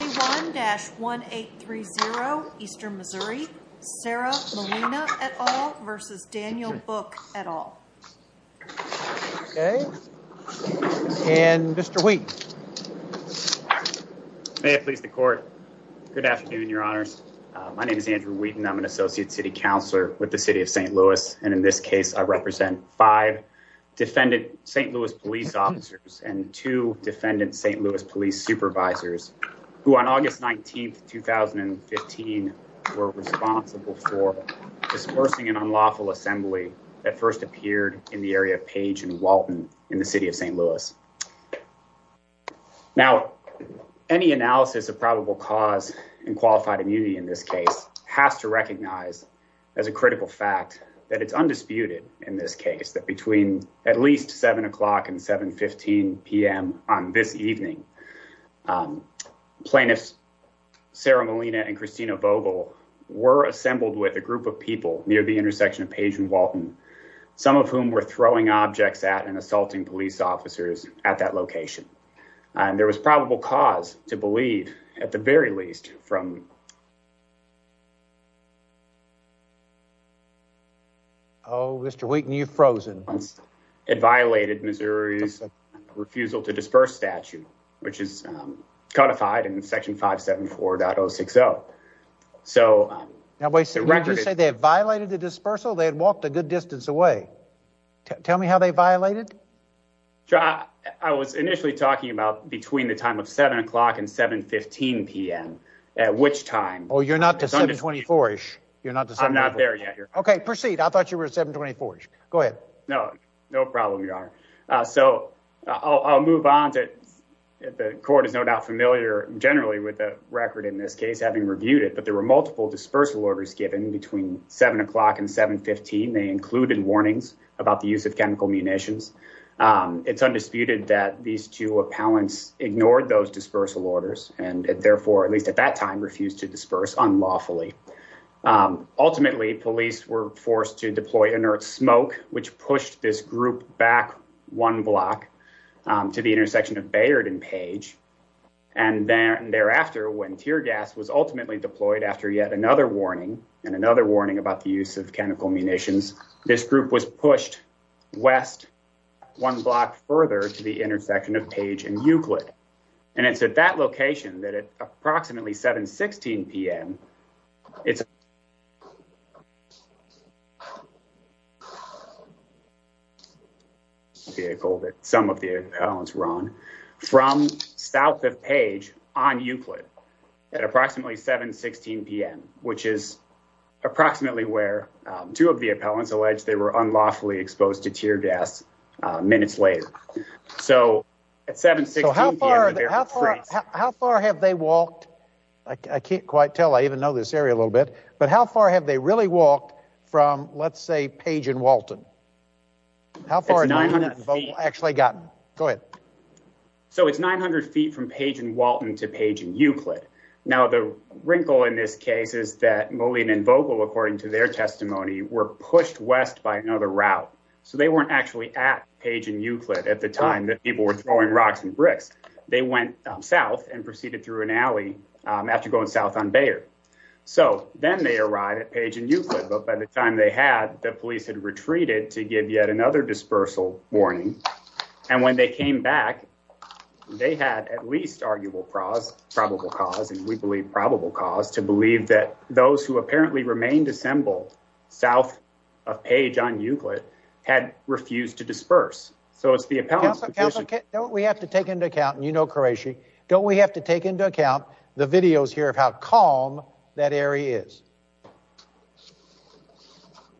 1-1830 Eastern Missouri Sarah Molina et al. versus Daniel Book et al. Okay and Mr. Wheaton. May it please the court. Good afternoon your honors. My name is Andrew Wheaton. I'm an associate city counselor with the City of St. Louis and in this case I represent five defendant St. Louis police officers and two defendant St. Louis police supervisors who on August 19th 2015 were responsible for dispersing an unlawful assembly that first appeared in the area of Page and Walton in the City of St. Louis. Now any analysis of probable cause and qualified immunity in this case has to recognize as a critical fact that it's undisputed in this case that between at least 7 o'clock and 7 15 p.m. on this evening plaintiffs Sarah Molina and Christina Vogel were assembled with a group of people near the intersection of Page and Walton some of whom were throwing objects at and assaulting police officers at that location. There was probable cause to believe at the very least from... Oh Mr. Wheaton you've which is codified in section 574.060 so... Now wait a second. Did you say they violated the dispersal? They had walked a good distance away. Tell me how they violated? I was initially talking about between the time of 7 o'clock and 7 15 p.m. at which time... Oh you're not to 7 24-ish. I'm not there yet. Okay proceed. I thought you were at 7 24-ish. Go ahead. No no problem your honor. So I'll move on to... The court is no doubt familiar generally with the record in this case having reviewed it but there were multiple dispersal orders given between 7 o'clock and 7 15. They included warnings about the use of chemical munitions. It's undisputed that these two appellants ignored those dispersal orders and therefore at least at that time refused to disperse unlawfully. Ultimately police were forced to deploy inert smoke which pushed this group back one block to the intersection of Bayard and Page and then thereafter when tear gas was ultimately deployed after yet another warning and another warning about the use of chemical munitions this group was pushed west one block further to the intersection of Page and Euclid and it's at that location that at vehicle that some of the appellants run from south of page on Euclid at approximately 7 16 p.m. which is approximately where two of the appellants alleged they were unlawfully exposed to tear gas minutes later so at 7 16 how far have they walked I can't quite tell I even know this area a little bit but how far have they really walked from let's say page and Walton how far 900 actually got go ahead so it's 900 feet from page and Walton to page and Euclid now the wrinkle in this case is that Moline and vocal according to their testimony were pushed west by another route so they weren't actually at page and Euclid at the time that people were throwing rocks and bricks they went south and proceeded through an alley after going south on Bayard so then they arrived at page and Euclid but by the time they had the police had retreated to give yet another dispersal warning and when they came back they had at least arguable pros probable cause and we believe probable cause to believe that those who apparently remained assembled south of page on Euclid had refused to disperse so it's the appellants don't we have to take into account and you know Croatia don't we have to take into account the videos here of how calm that area is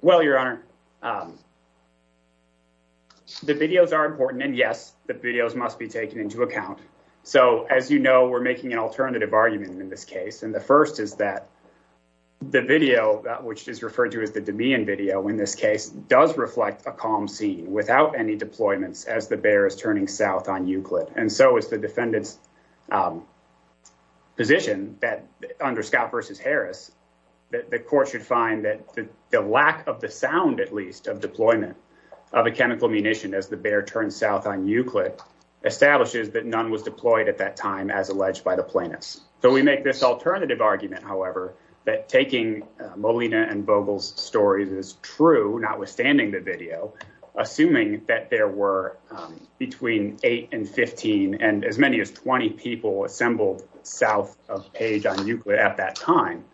well your honor the videos are important and yes the videos must be taken into account so as you know we're making an alternative argument in this case and the first is that the video that which is referred to as the Demian video in this case does reflect a calm scene without any deployments as the bear is turning south on Euclid and so is the defendants position that under Scott versus Harris that the court should find that the lack of the sound at least of deployment of a chemical munition as the bear turned south on Euclid establishes that none was deployed at that time as alleged by the plaintiffs so we make this alternative argument however that taking Molina and Vogel's stories is true notwithstanding the video assuming that there were between 8 and 15 and as many as 20 people assembled south of page on Euclid at that time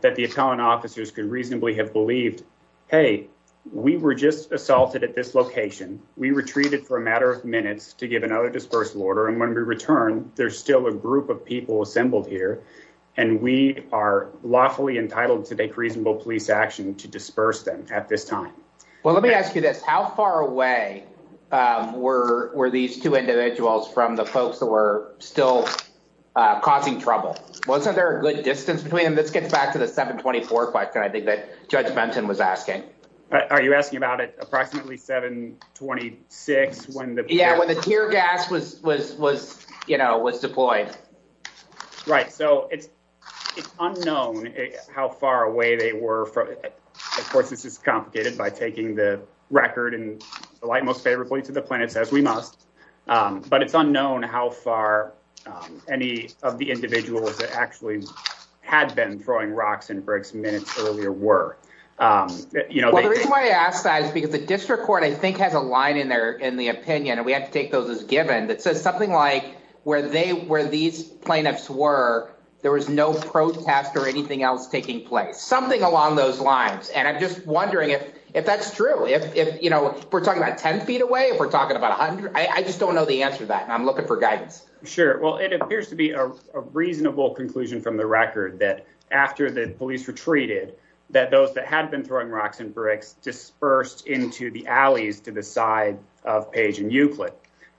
that the appellant officers could reasonably have believed hey we were just assaulted at this location we retreated for a matter of minutes to give another dispersal order and when we return there's still a group of people assembled here and we are lawfully entitled to take reasonable police action to disperse them at this time well let me ask you this how far away were were these two individuals from the folks that were still causing trouble wasn't there a good distance between them this gets back to the 724 question I think that judge Benton was asking are you asking about it approximately 726 when the yeah when the tear gas was was was you know was deployed right so it's unknown how far away they were from it of course this is record and the light most favorably to the planets as we must but it's unknown how far any of the individuals that actually had been throwing rocks and bricks minutes earlier were you know the reason why I asked that is because the district court I think has a line in there in the opinion and we have to take those as given that says something like where they were these plaintiffs were there was no protest or anything else taking place something along those lines and I'm just wondering if if that's true if you know we're talking about 10 feet away if we're talking about a hundred I just don't know the answer to that I'm looking for guidance sure well it appears to be a reasonable conclusion from the record that after the police retreated that those that had been throwing rocks and bricks dispersed into the alleys to the side of page and Euclid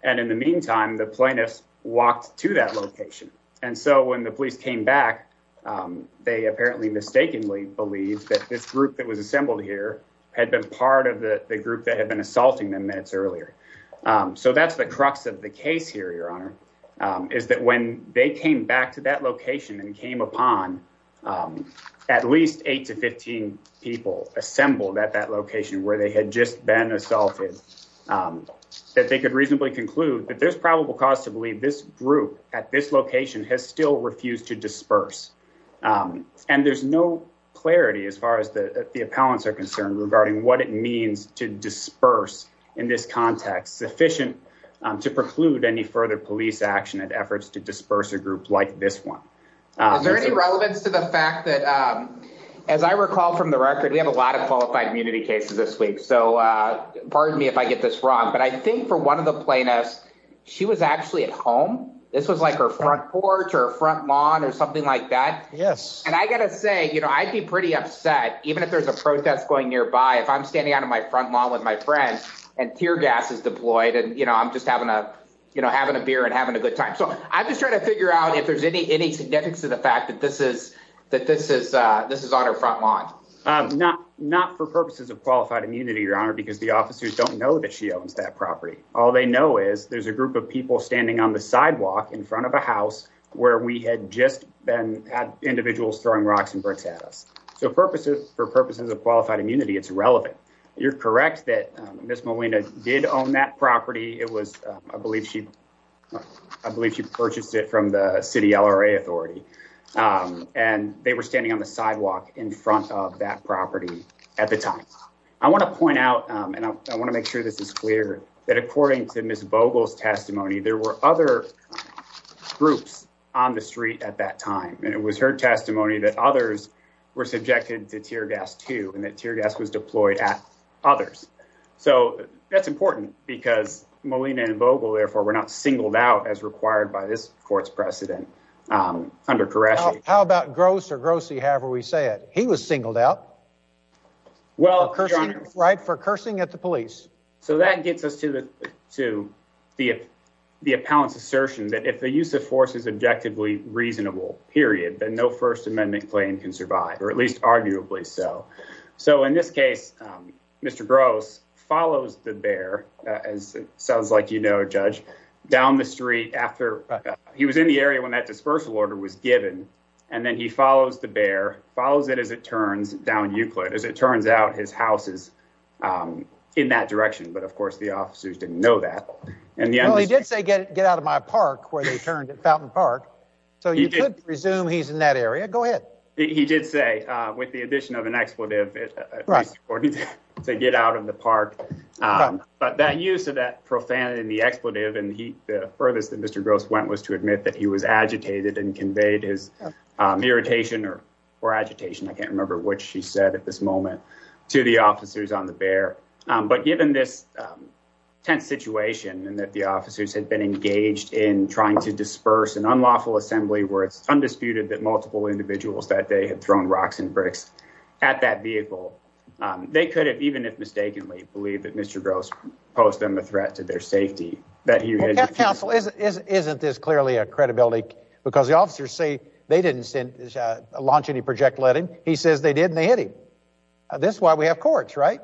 and in the meantime the plaintiffs walked to that location and so when the police came back they apparently mistakenly believed that this group that was assembled here had been part of the group that had been assaulting them minutes earlier so that's the crux of the case here your honor is that when they came back to that location and came upon at least 8 to 15 people assembled at that location where they had just been assaulted that they could reasonably conclude that there's probable cause to believe this group at this location has still refused to disperse and there's no clarity as far as the the appellants are concerned regarding what it means to disperse in this context sufficient to preclude any further police action and efforts to disperse a group like this one there any relevance to the fact that as I recall from the record we have a lot of qualified immunity cases this week so pardon me if I get this wrong but I think for one of the plaintiffs she was actually at home this was like her front porch or front lawn or something like that yes and I gotta say you know I'd be pretty upset even if there's a protest going nearby if I'm standing out of my front lawn with my friends and tear gas is deployed and you know I'm just having a you know having a beer and having a good time so I'm just trying to figure out if there's any any significance to the fact that this is that this is this is on her front lawn not not for purposes of qualified immunity your honor because the officers don't know that she owns that property all they know is there's a group of people standing on the sidewalk in front of a house where we had just been individuals throwing rocks and bricks at us so purposes for purposes of qualified immunity it's relevant you're correct that miss Molina did own that property it was I believe she I believe she purchased it from the city LRA Authority and they were standing on the sidewalk in front of that property at the time I want to point out and I want to make sure this is clear that according to miss Vogel's testimony there were other groups on the street at that time and it was her testimony that others were subjected to tear gas too and that tear gas was deployed at others so that's important because Molina and Vogel therefore were not singled out as required by this court's precedent under Koresh how about gross or grossie however we say it he was singled out well right for cursing at the police so that gets us to the to the the appellant's assertion that if the use of force is objectively reasonable period then no First Amendment claim can survive or at least arguably so so in this case mr. gross follows the bear as it sounds like you know judge down the street after he was in the area when that dispersal order was given and then he follows the you put as it turns out his house is in that direction but of course the officers didn't know that and yeah he did say get get out of my park where they turned at Fountain Park so you presume he's in that area go ahead he did say with the addition of an expletive to get out of the park but that use of that profanity in the expletive and he the furthest that mr. gross went was to admit that he was agitated and conveyed his irritation or agitation I can't remember what she said at this moment to the officers on the bear but given this tense situation and that the officers had been engaged in trying to disperse an unlawful assembly where it's undisputed that multiple individuals that they had thrown rocks and bricks at that vehicle they could have even if mistakenly believe that mr. gross posed them a threat to their safety that you counsel isn't this clearly a credibility because the officers say they didn't launch any project letting he says they did and they hit him this is why we have courts right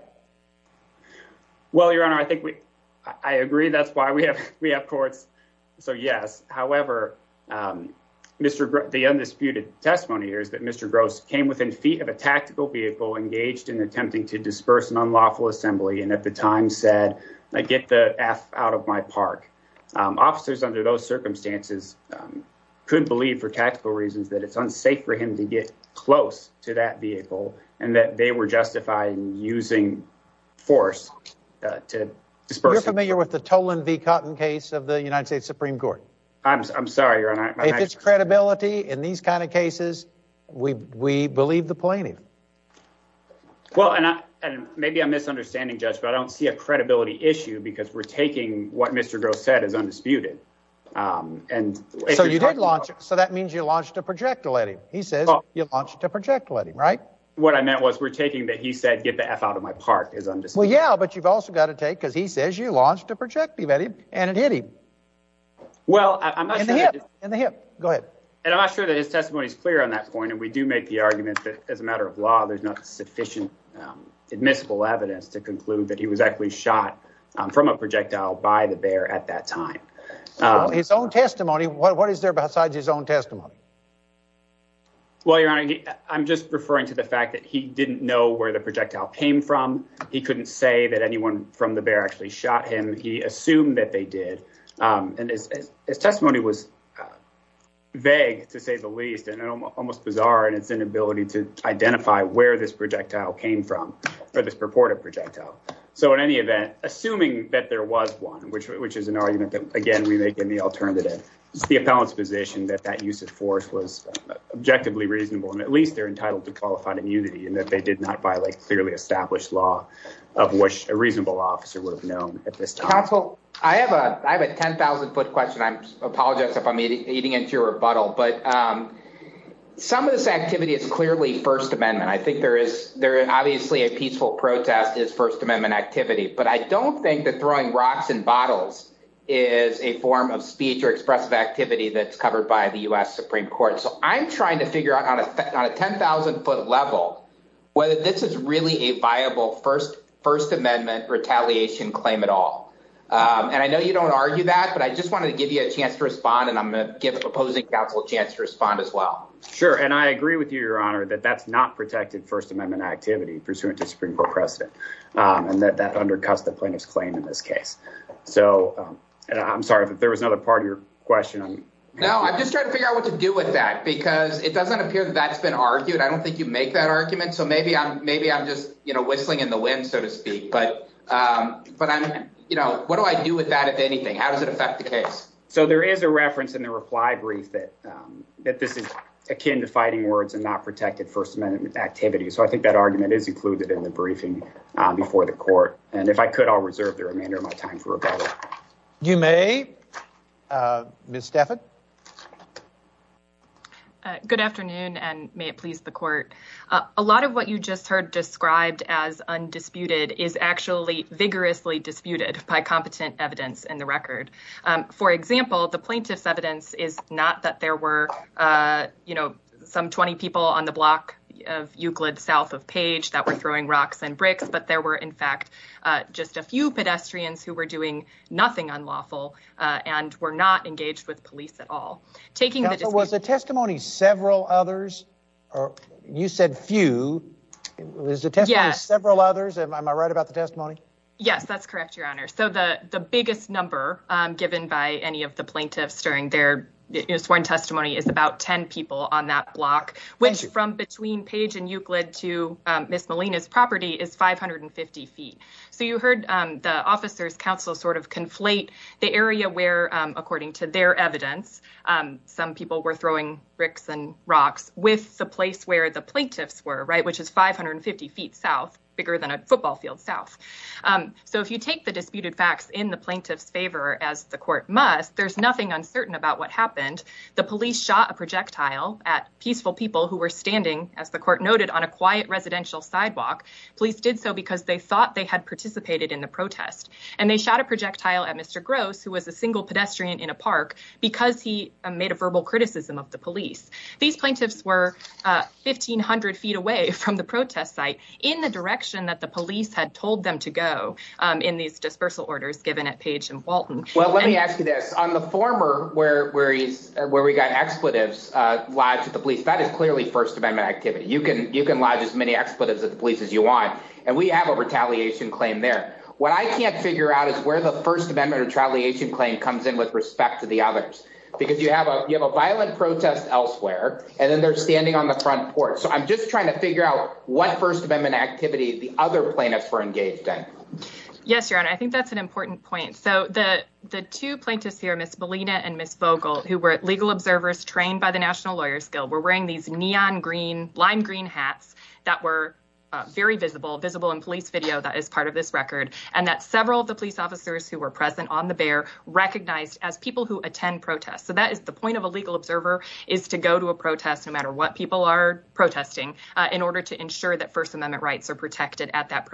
well your honor I think we I agree that's why we have we have courts so yes however mr. the undisputed testimony here is that mr. gross came within feet of a tactical vehicle engaged in attempting to disperse an unlawful assembly and at the time said I hit the F out of my park officers under those circumstances could believe for tactical reasons that it's unsafe for him to get close to that vehicle and that they were justifying using force to disperse I mean you're with the tolan v cotton case of the United States Supreme Court I'm sorry your honor it's credibility in these kind of cases we believe the plaintiff well and maybe I'm issue because we're taking what mr. gross said is undisputed and so you did launch it so that means you launched a project to let him he says you launched a project let him right what I meant was we're taking that he said get the F out of my park is understood yeah but you've also got to take because he says you launched a project be ready and it hit him well I'm in the hip go ahead and I'm not sure that his testimony is clear on that point and we do make the argument that as a matter of law there's not sufficient admissible evidence to from a projectile by the bear at that time his own testimony what what is there besides his own testimony well your honor I'm just referring to the fact that he didn't know where the projectile came from he couldn't say that anyone from the bear actually shot him he assumed that they did and his testimony was vague to say the least and almost bizarre and it's inability to identify where this projectile came from or this purported projectile so in any event assuming that there was one which which is an argument that again we make in the alternative it's the appellant's position that that use of force was objectively reasonable and at least they're entitled to qualified immunity and that they did not violate clearly established law of which a reasonable officer would have known at this time I have a I have a 10,000 foot question I'm apologize if I'm eating into your rebuttal but some of this activity is clearly First Amendment I think there is there obviously a peaceful protest is First Amendment activity but I don't think that throwing rocks and bottles is a form of speech or expressive activity that's covered by the US Supreme Court so I'm trying to figure out on a 10,000 foot level whether this is really a viable first First Amendment retaliation claim at all and I know you don't argue that but I just wanted to give you a chance to respond and I'm gonna give opposing counsel a chance to respond as well sure and I agree with you your honor that that's not protected First Amendment activity pursuant to Supreme Court precedent and that that undercuts the plaintiff's claim in this case so I'm sorry if there was another part of your question no I'm just trying to figure out what to do with that because it doesn't appear that that's been argued I don't think you make that argument so maybe I'm maybe I'm just you know whistling in the wind so to speak but but I'm you know what do I do with that if anything how does it affect the case so there is a reference in the reply brief that that this is akin to fighting words and not protected First So I think that argument is included in the briefing before the court and if I could I'll reserve the remainder of my time for rebuttal. You may, Ms. Stafford. Good afternoon and may it please the court. A lot of what you just heard described as undisputed is actually vigorously disputed by competent evidence in the record. For example, the plaintiff's evidence is not that there were you know some 20 people on the block of Euclid south of Page that were throwing rocks and bricks but there were in fact just a few pedestrians who were doing nothing unlawful and were not engaged with police at all. Was the testimony several others or you said few. Is the testimony several others? Am I right about the testimony? Yes, that's correct, your honor. So the the biggest number given by any of the plaintiffs during their sworn testimony is about 10 people on that block which from between Page and Euclid to Miss Molina's property is 550 feet. So you heard the officers counsel sort of conflate the area where according to their evidence some people were throwing bricks and rocks with the place where the plaintiffs were right which is 550 feet south bigger than a football field south. So if you take the disputed facts in the plaintiff's favor as the court must, there's nothing uncertain about what happened. The police shot a projectile at peaceful people who were standing as the court noted on a quiet residential sidewalk. Police did so because they thought they had participated in the protest and they shot a projectile at Mr. Gross who was a single pedestrian in a park because he made a verbal criticism of the police. These plaintiffs were 1,500 feet away from the protest site in the direction that the police had told them to go in these dispersal orders given at Page and Walton. Well let me ask you this, on the former where we got expletives lodged at the police, that is clearly First Amendment activity. You can you can lodge as many expletives at the police as you want and we have a retaliation claim there. What I can't figure out is where the First Amendment retaliation claim comes in with respect to the others because you have a violent protest elsewhere and then they're standing on the front porch. So I'm just trying to figure out what First Amendment activity the other plaintiffs were engaged in. Yes your honor, I think that's an important point. So the the two plaintiffs here, Ms. Molina and Ms. Vogel, who were legal observers trained by the National Lawyers Guild, were wearing these neon green, lime green hats that were very visible, visible in police video that is part of this record and that several of the police officers who were present on the bear recognized as people who attend protests. So that is the point of a legal observer is to go to a protest no matter what people are protesting in order to ensure that First Amendment rights are protected at that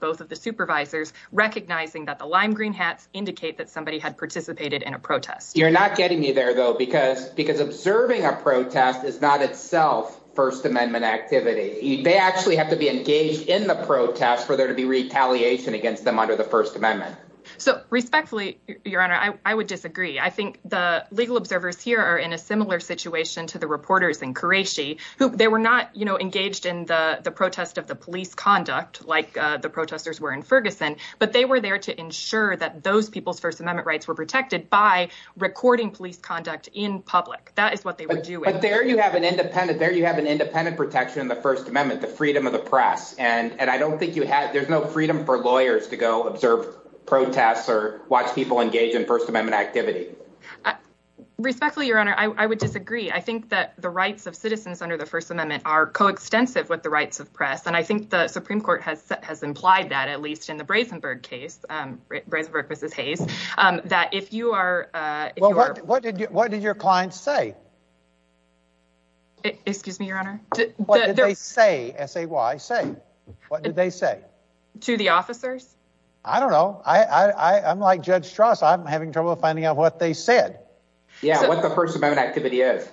both of the supervisors recognizing that the lime green hats indicate that somebody had participated in a protest. You're not getting me there though because because observing a protest is not itself First Amendment activity. They actually have to be engaged in the protest for there to be retaliation against them under the First Amendment. So respectfully, your honor, I would disagree. I think the legal observers here are in a similar situation to the reporters in Karachi who they were not you know engaged in the the protest of the police conduct like the protesters were in Ferguson, but they were there to ensure that those people's First Amendment rights were protected by recording police conduct in public. That is what they were doing. But there you have an independent, there you have an independent protection in the First Amendment, the freedom of the press, and and I don't think you have, there's no freedom for lawyers to go observe protests or watch people engage in First Amendment activity. Respectfully, your honor, I would disagree. I think that the rights of citizens under the First Amendment are coextensive with the First Amendment. I think the Supreme Court has has implied that at least in the Brasenburg case, Brasenburg v. Hayes, that if you are, if you are, what did what did your client say? Excuse me, your honor? What did they say? S-A-Y say? What did they say? To the officers? I don't know. I I I'm like Judge Strauss. I'm having trouble finding out what they said. Yeah, what the First Amendment activity is.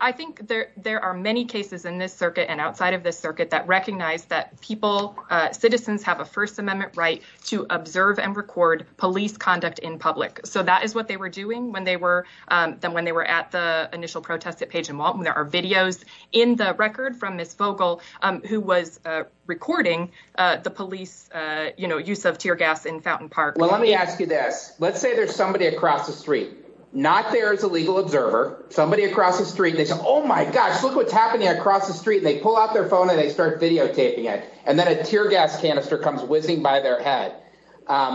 I think there there are many cases in this circuit and outside of this circuit that recognize that people, citizens, have a First Amendment right to observe and record police conduct in public. So that is what they were doing when they were then when they were at the initial protest at Page and Walton. There are videos in the record from Ms. Vogel who was recording the police, you know, use of tear gas in Fountain Park. Well, let me ask you this. Let's say there's somebody across the street, not there as a legal observer, somebody across the street, they say, oh my gosh, look what's happening across the street. And they pull out their phone and they start videotaping it. And then a tear gas canister comes whizzing by their head.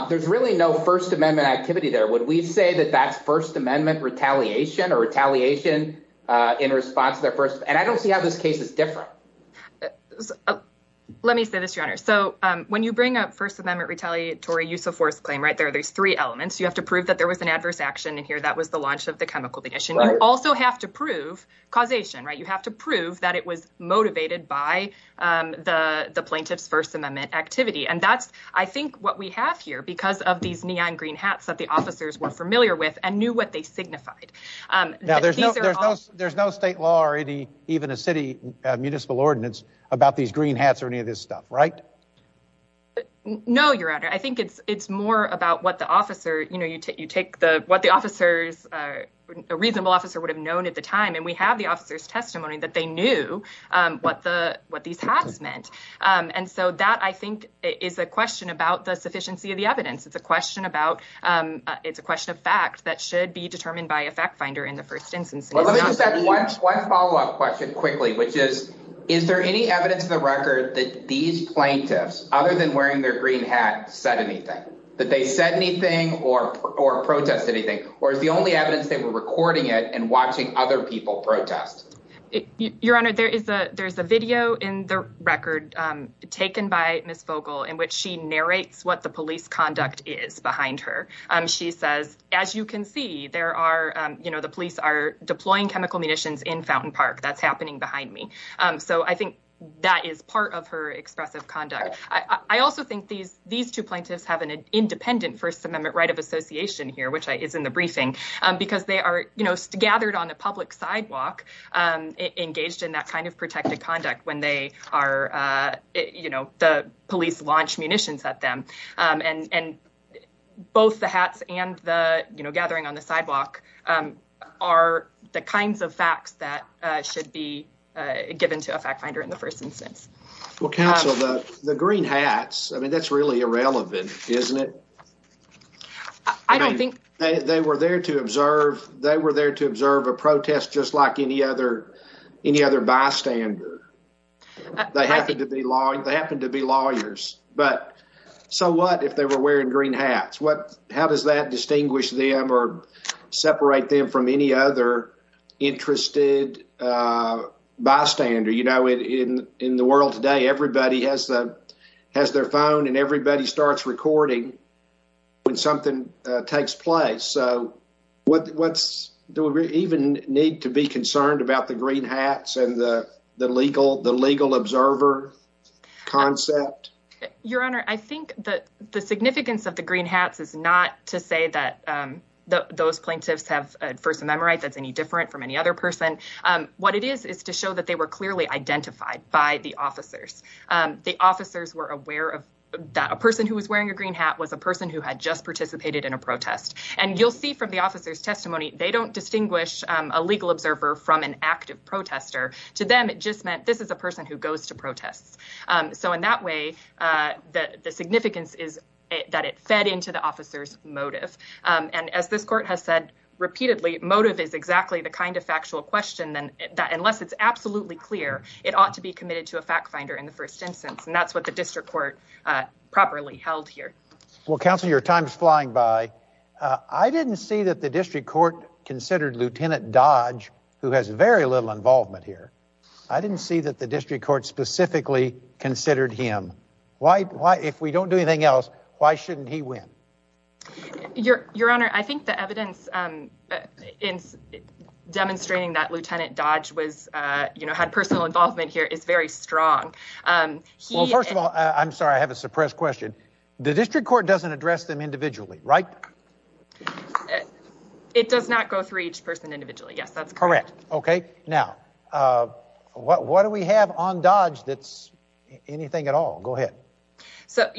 There's really no First Amendment activity there. Would we say that that's First Amendment retaliation or retaliation in response to their first? And I don't see how this case is different. Let me say this, your honor. So when you bring up First Amendment retaliatory use of force claim right there, there's three elements. You have to prove that there was an adverse action in here. That was the launch of the chemical condition. You also have to prove causation, right? You have to prove that it was motivated by the plaintiff's First Amendment activity. And that's, I think, what we have here because of these neon green hats that the officers were familiar with and knew what they signified. There's no state law or even a city municipal ordinance about these green hats or any of this stuff, right? No, your honor. I think it's more about what the officer, you know, you take what the officers, a reasonable officer would have known at the time. And we have the officer's testimony that they knew what these hats meant. And so that, I think, is a question about the sufficiency of the evidence. It's a question about, it's a question of fact that should be determined by a fact finder in the first instance. Let me just add one follow up question quickly, which is, is there any evidence in the record that these plaintiffs, other than wearing their green hat, said anything? That they said anything or protest anything? Or is the only evidence they were recording it and watching other people protest? Your honor, there is a video in the record taken by Ms. Vogel in which she narrates what the police conduct is behind her. She says, as you can see, there are, you know, the police are deploying chemical munitions in Fountain Park. That's happening behind me. So I think that is part of her expressive conduct. I also think these two plaintiffs have an independent First Instance in the briefing because they are, you know, gathered on a public sidewalk, engaged in that kind of protected conduct when they are, you know, the police launch munitions at them. And both the hats and the, you know, gathering on the sidewalk are the kinds of facts that should be given to a fact finder in the first instance. Well, counsel, the green hats, I mean, that's really irrelevant, isn't it? I don't think they were there to observe. They were there to observe a protest just like any other bystander. They happen to be lawyers. But so what if they were wearing green hats? How does that distinguish them or separate them from any other interested bystander? You know, in the world today, everybody has their phone and everybody starts recording when something takes place. So do we even need to be concerned about the green hats and the legal observer concept? Your Honor, I think that the significance of the green hats is not to say that those plaintiffs have a First Amendment right that's any different from any other person. What it is is to show that they were clearly identified by the officers. The officers were aware that a person who was wearing a green hat was a person who had just participated in a protest. And you'll see from the officer's testimony, they don't distinguish a legal observer from an active protester. To them, it just meant this is a person who goes to protests. So in that way, the significance is that it fed into the officer's motive. And as this court has said repeatedly, motive is exactly the kind of factual question that unless it's absolutely clear, it ought to be committed to a fact finder in the first instance. And that's what the district court properly held here. Well, Counselor, your time is flying by. I didn't see that the district court considered Lieutenant Dodge, who has very little involvement here. I didn't see that the district court specifically considered him. If we don't do anything else, why shouldn't he win? Your Honor, I think the evidence in demonstrating that Lieutenant Dodge had personal involvement here is very strong. Well, first of all, I'm sorry, I have a suppressed question. The district court doesn't address them individually, right? It does not go through each person individually. Yes, that's correct. Okay. Now, what do we have on Dodge that's anything at all? Go ahead. So,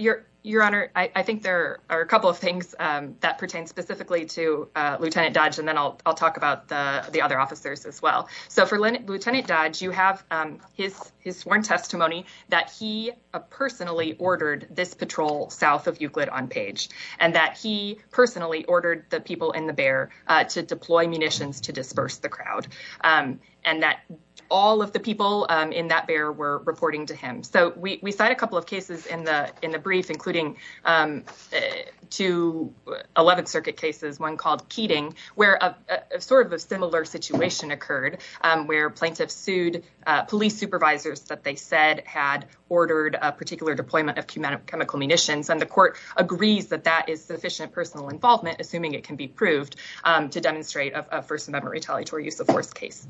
Your Honor, I think there are a couple of things that pertain specifically to Lieutenant Dodge, and then I'll talk about the other officers as well. So, for Lieutenant Dodge, you have his sworn testimony that he personally ordered this patrol south of Euclid on Page, and that he personally ordered the people in the bear to deploy munitions to disperse the crowd, and that all of the people in that bear were reporting to him. So, we cite a couple of cases in the brief, including two 11th Circuit cases, one called where plaintiffs sued police supervisors that they said had ordered a particular deployment of chemical munitions, and the court agrees that that is sufficient personal involvement, assuming it can be proved, to demonstrate a First Amendment retaliatory use of force case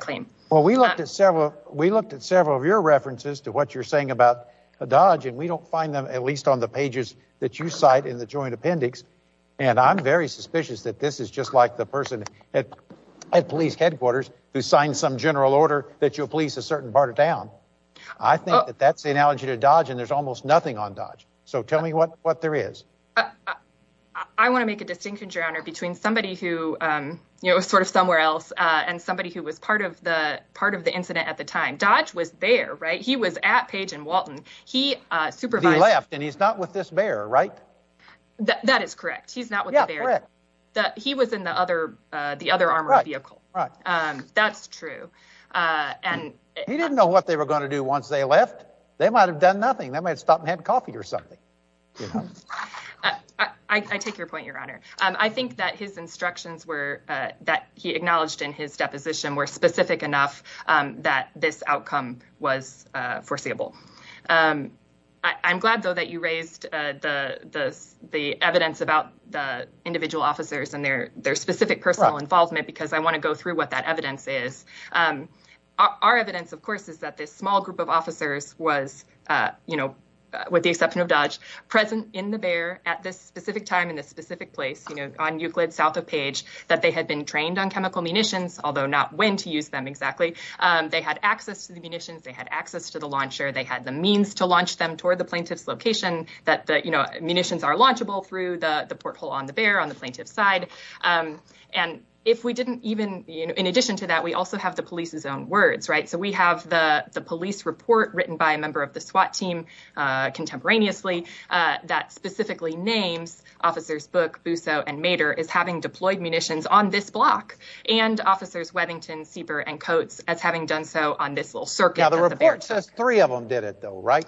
claim. Well, we looked at several of your references to what you're saying about Dodge, and we don't find them at least on the pages that you cite in the joint appendix, and I'm very suspicious that this is just like the person at police headquarters who signed some general order that you'll police a certain part of town. I think that that's the analogy to Dodge, and there's almost nothing on Dodge. So, tell me what there is. I want to make a distinction, Your Honor, between somebody who, you know, sort of somewhere else, and somebody who was part of the incident at the time. Dodge was there, right? He was at Page and Walton. He supervised- He left, and he's not with this bear, right? That is correct. He's not with the bear. Yeah, correct. He was in the other armored vehicle. Right, right. That's true. He didn't know what they were going to do once they left. They might have done nothing. They might have stopped and had coffee or something. I take your point, Your Honor. I think that his instructions that he acknowledged in his deposition were specific enough that this outcome was foreseeable. I'm glad, though, that you raised the evidence about the officers and their specific personal involvement, because I want to go through what that evidence is. Our evidence, of course, is that this small group of officers was, with the exception of Dodge, present in the bear at this specific time in this specific place on Euclid, south of Page, that they had been trained on chemical munitions, although not when to use them exactly. They had access to the munitions. They had access to the launcher. They had the means to launch them toward the plaintiff's location. Munitions are launchable through the porthole on the bear on the plaintiff's side. In addition to that, we also have the police's own words. We have the police report written by a member of the SWAT team contemporaneously that specifically names officers Book, Busseau, and Mader as having deployed munitions on this block, and officers Webbington, Sieper, and Coates as having done so on this little circuit. Now, the report says three of them did it, though, right?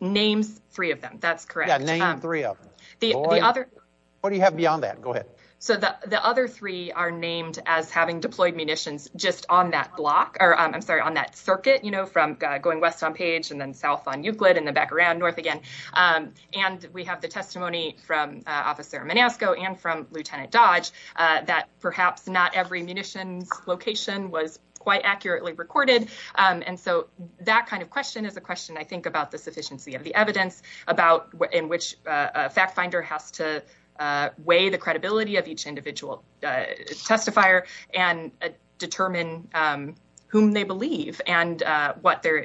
Names three of them. That's correct. Yeah, name three of them. What do you have beyond that? Go ahead. So the other three are named as having deployed munitions just on that block, or I'm sorry, on that circuit, you know, from going west on Page and then south on Euclid and then back around north again. And we have the testimony from Officer Manasco and from Lieutenant Dodge that perhaps not every munitions location was quite accurately recorded. And so that kind of question is a question about the sufficiency of the evidence, about in which a fact finder has to weigh the credibility of each individual testifier and determine whom they believe and what there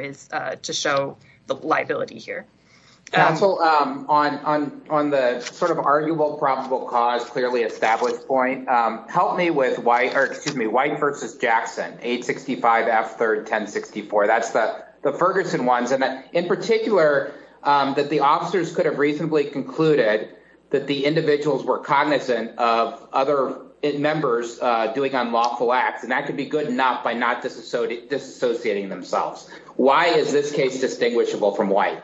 is to show the liability here. Counsel, on the sort of arguable, probable cause, clearly established point, help me with White v. Jackson, 865 F. 3rd, 1064. That's the Ferguson ones. And in particular, that the officers could have reasonably concluded that the individuals were cognizant of other members doing unlawful acts. And that could be good enough by not disassociating themselves. Why is this case distinguishable from White?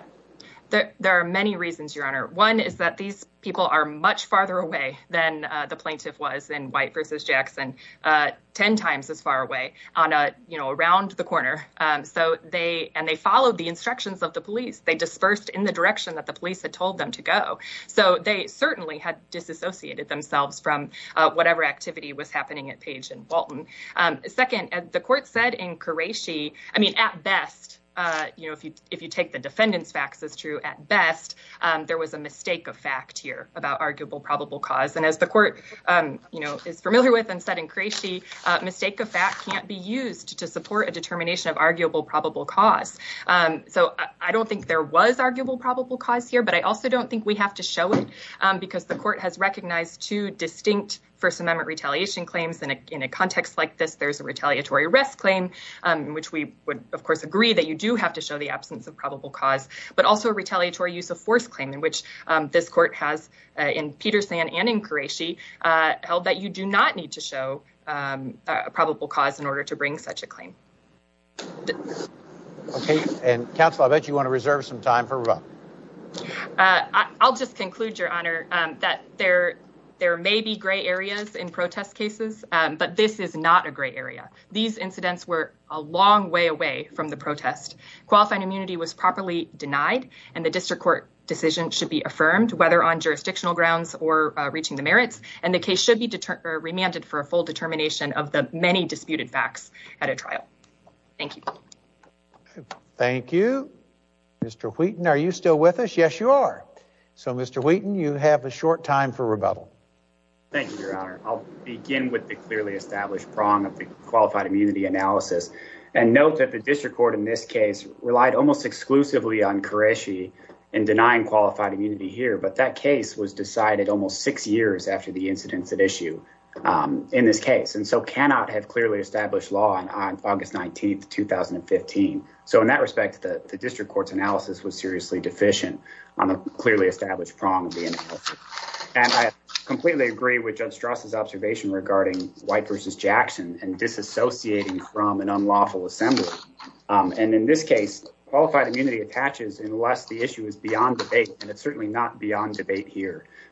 There are many reasons, Your Honor. One is that these people are much farther away than the plaintiff was in White v. Jackson, 10 times as far away, around the corner. And they followed the instructions of the police. They dispersed in the direction that the police had told them to go. So they certainly had disassociated themselves from whatever activity was happening at Page and Walton. Second, the court said in Qureshi, I mean, at best, if you take the defendant's facts as true, at best, there was a mistake of fact here about arguable, probable cause. And as the court is familiar with and said in Qureshi, mistake of fact can't be used to support a determination of arguable, probable cause. So I don't think there was arguable, probable cause here. But I also don't think we have to show it, because the court has recognized two distinct First Amendment retaliation claims. In a context like this, there's a retaliatory arrest claim, in which we would, of course, agree that you do have to show the absence of probable cause, but also a retaliatory use of force claim, in which this court has, in Peterson and in Qureshi, held that you do not need to show a probable cause in order to bring such a claim. Okay. And counsel, I bet you want to reserve some time for revising. I'll just conclude, Your Honor, that there may be gray areas in protest cases, but this is not a gray area. These incidents were a long way away from the protest. Qualifying immunity was properly denied, and the district court decision should be affirmed, whether on jurisdictional grounds or reaching the full determination of the many disputed facts at a trial. Thank you. Thank you. Mr. Wheaton, are you still with us? Yes, you are. So, Mr. Wheaton, you have a short time for rebuttal. Thank you, Your Honor. I'll begin with the clearly established prong of the qualified immunity analysis, and note that the district court in this case relied almost exclusively on Qureshi in denying qualified immunity here, but that case was decided almost six years after the incidents at issue in this case, and so cannot have clearly established law on August 19, 2015. So, in that respect, the district court's analysis was seriously deficient on the clearly established prong of the analysis. And I completely agree with Judge Strasse's observation regarding White v. Jackson and disassociating from an unlawful assembly. And in this case, qualified immunity attaches unless the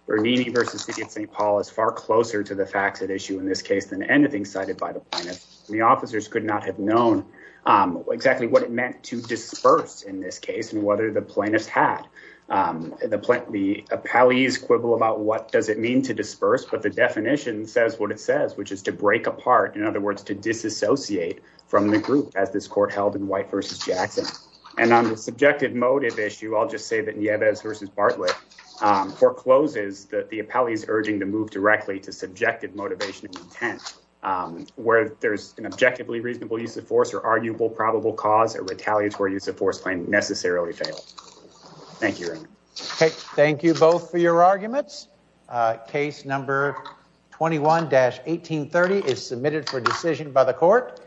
Bernini v. St. Paul is far closer to the facts at issue in this case than anything cited by the plaintiffs. The officers could not have known exactly what it meant to disperse in this case and whether the plaintiffs had. The appellees quibble about what does it mean to disperse, but the definition says what it says, which is to break apart, in other words, to disassociate from the group as this court held in White v. Jackson. And on the subjective motive issue, I'll just say that Nieves v. Bartlett forecloses that the appellee's urging to move directly to subjective motivation and intent, where there's an objectively reasonable use of force or arguable probable cause, a retaliatory use of force claim necessarily failed. Thank you. Okay, thank you both for your arguments. Case number 21-1830 is submitted for decision by the court.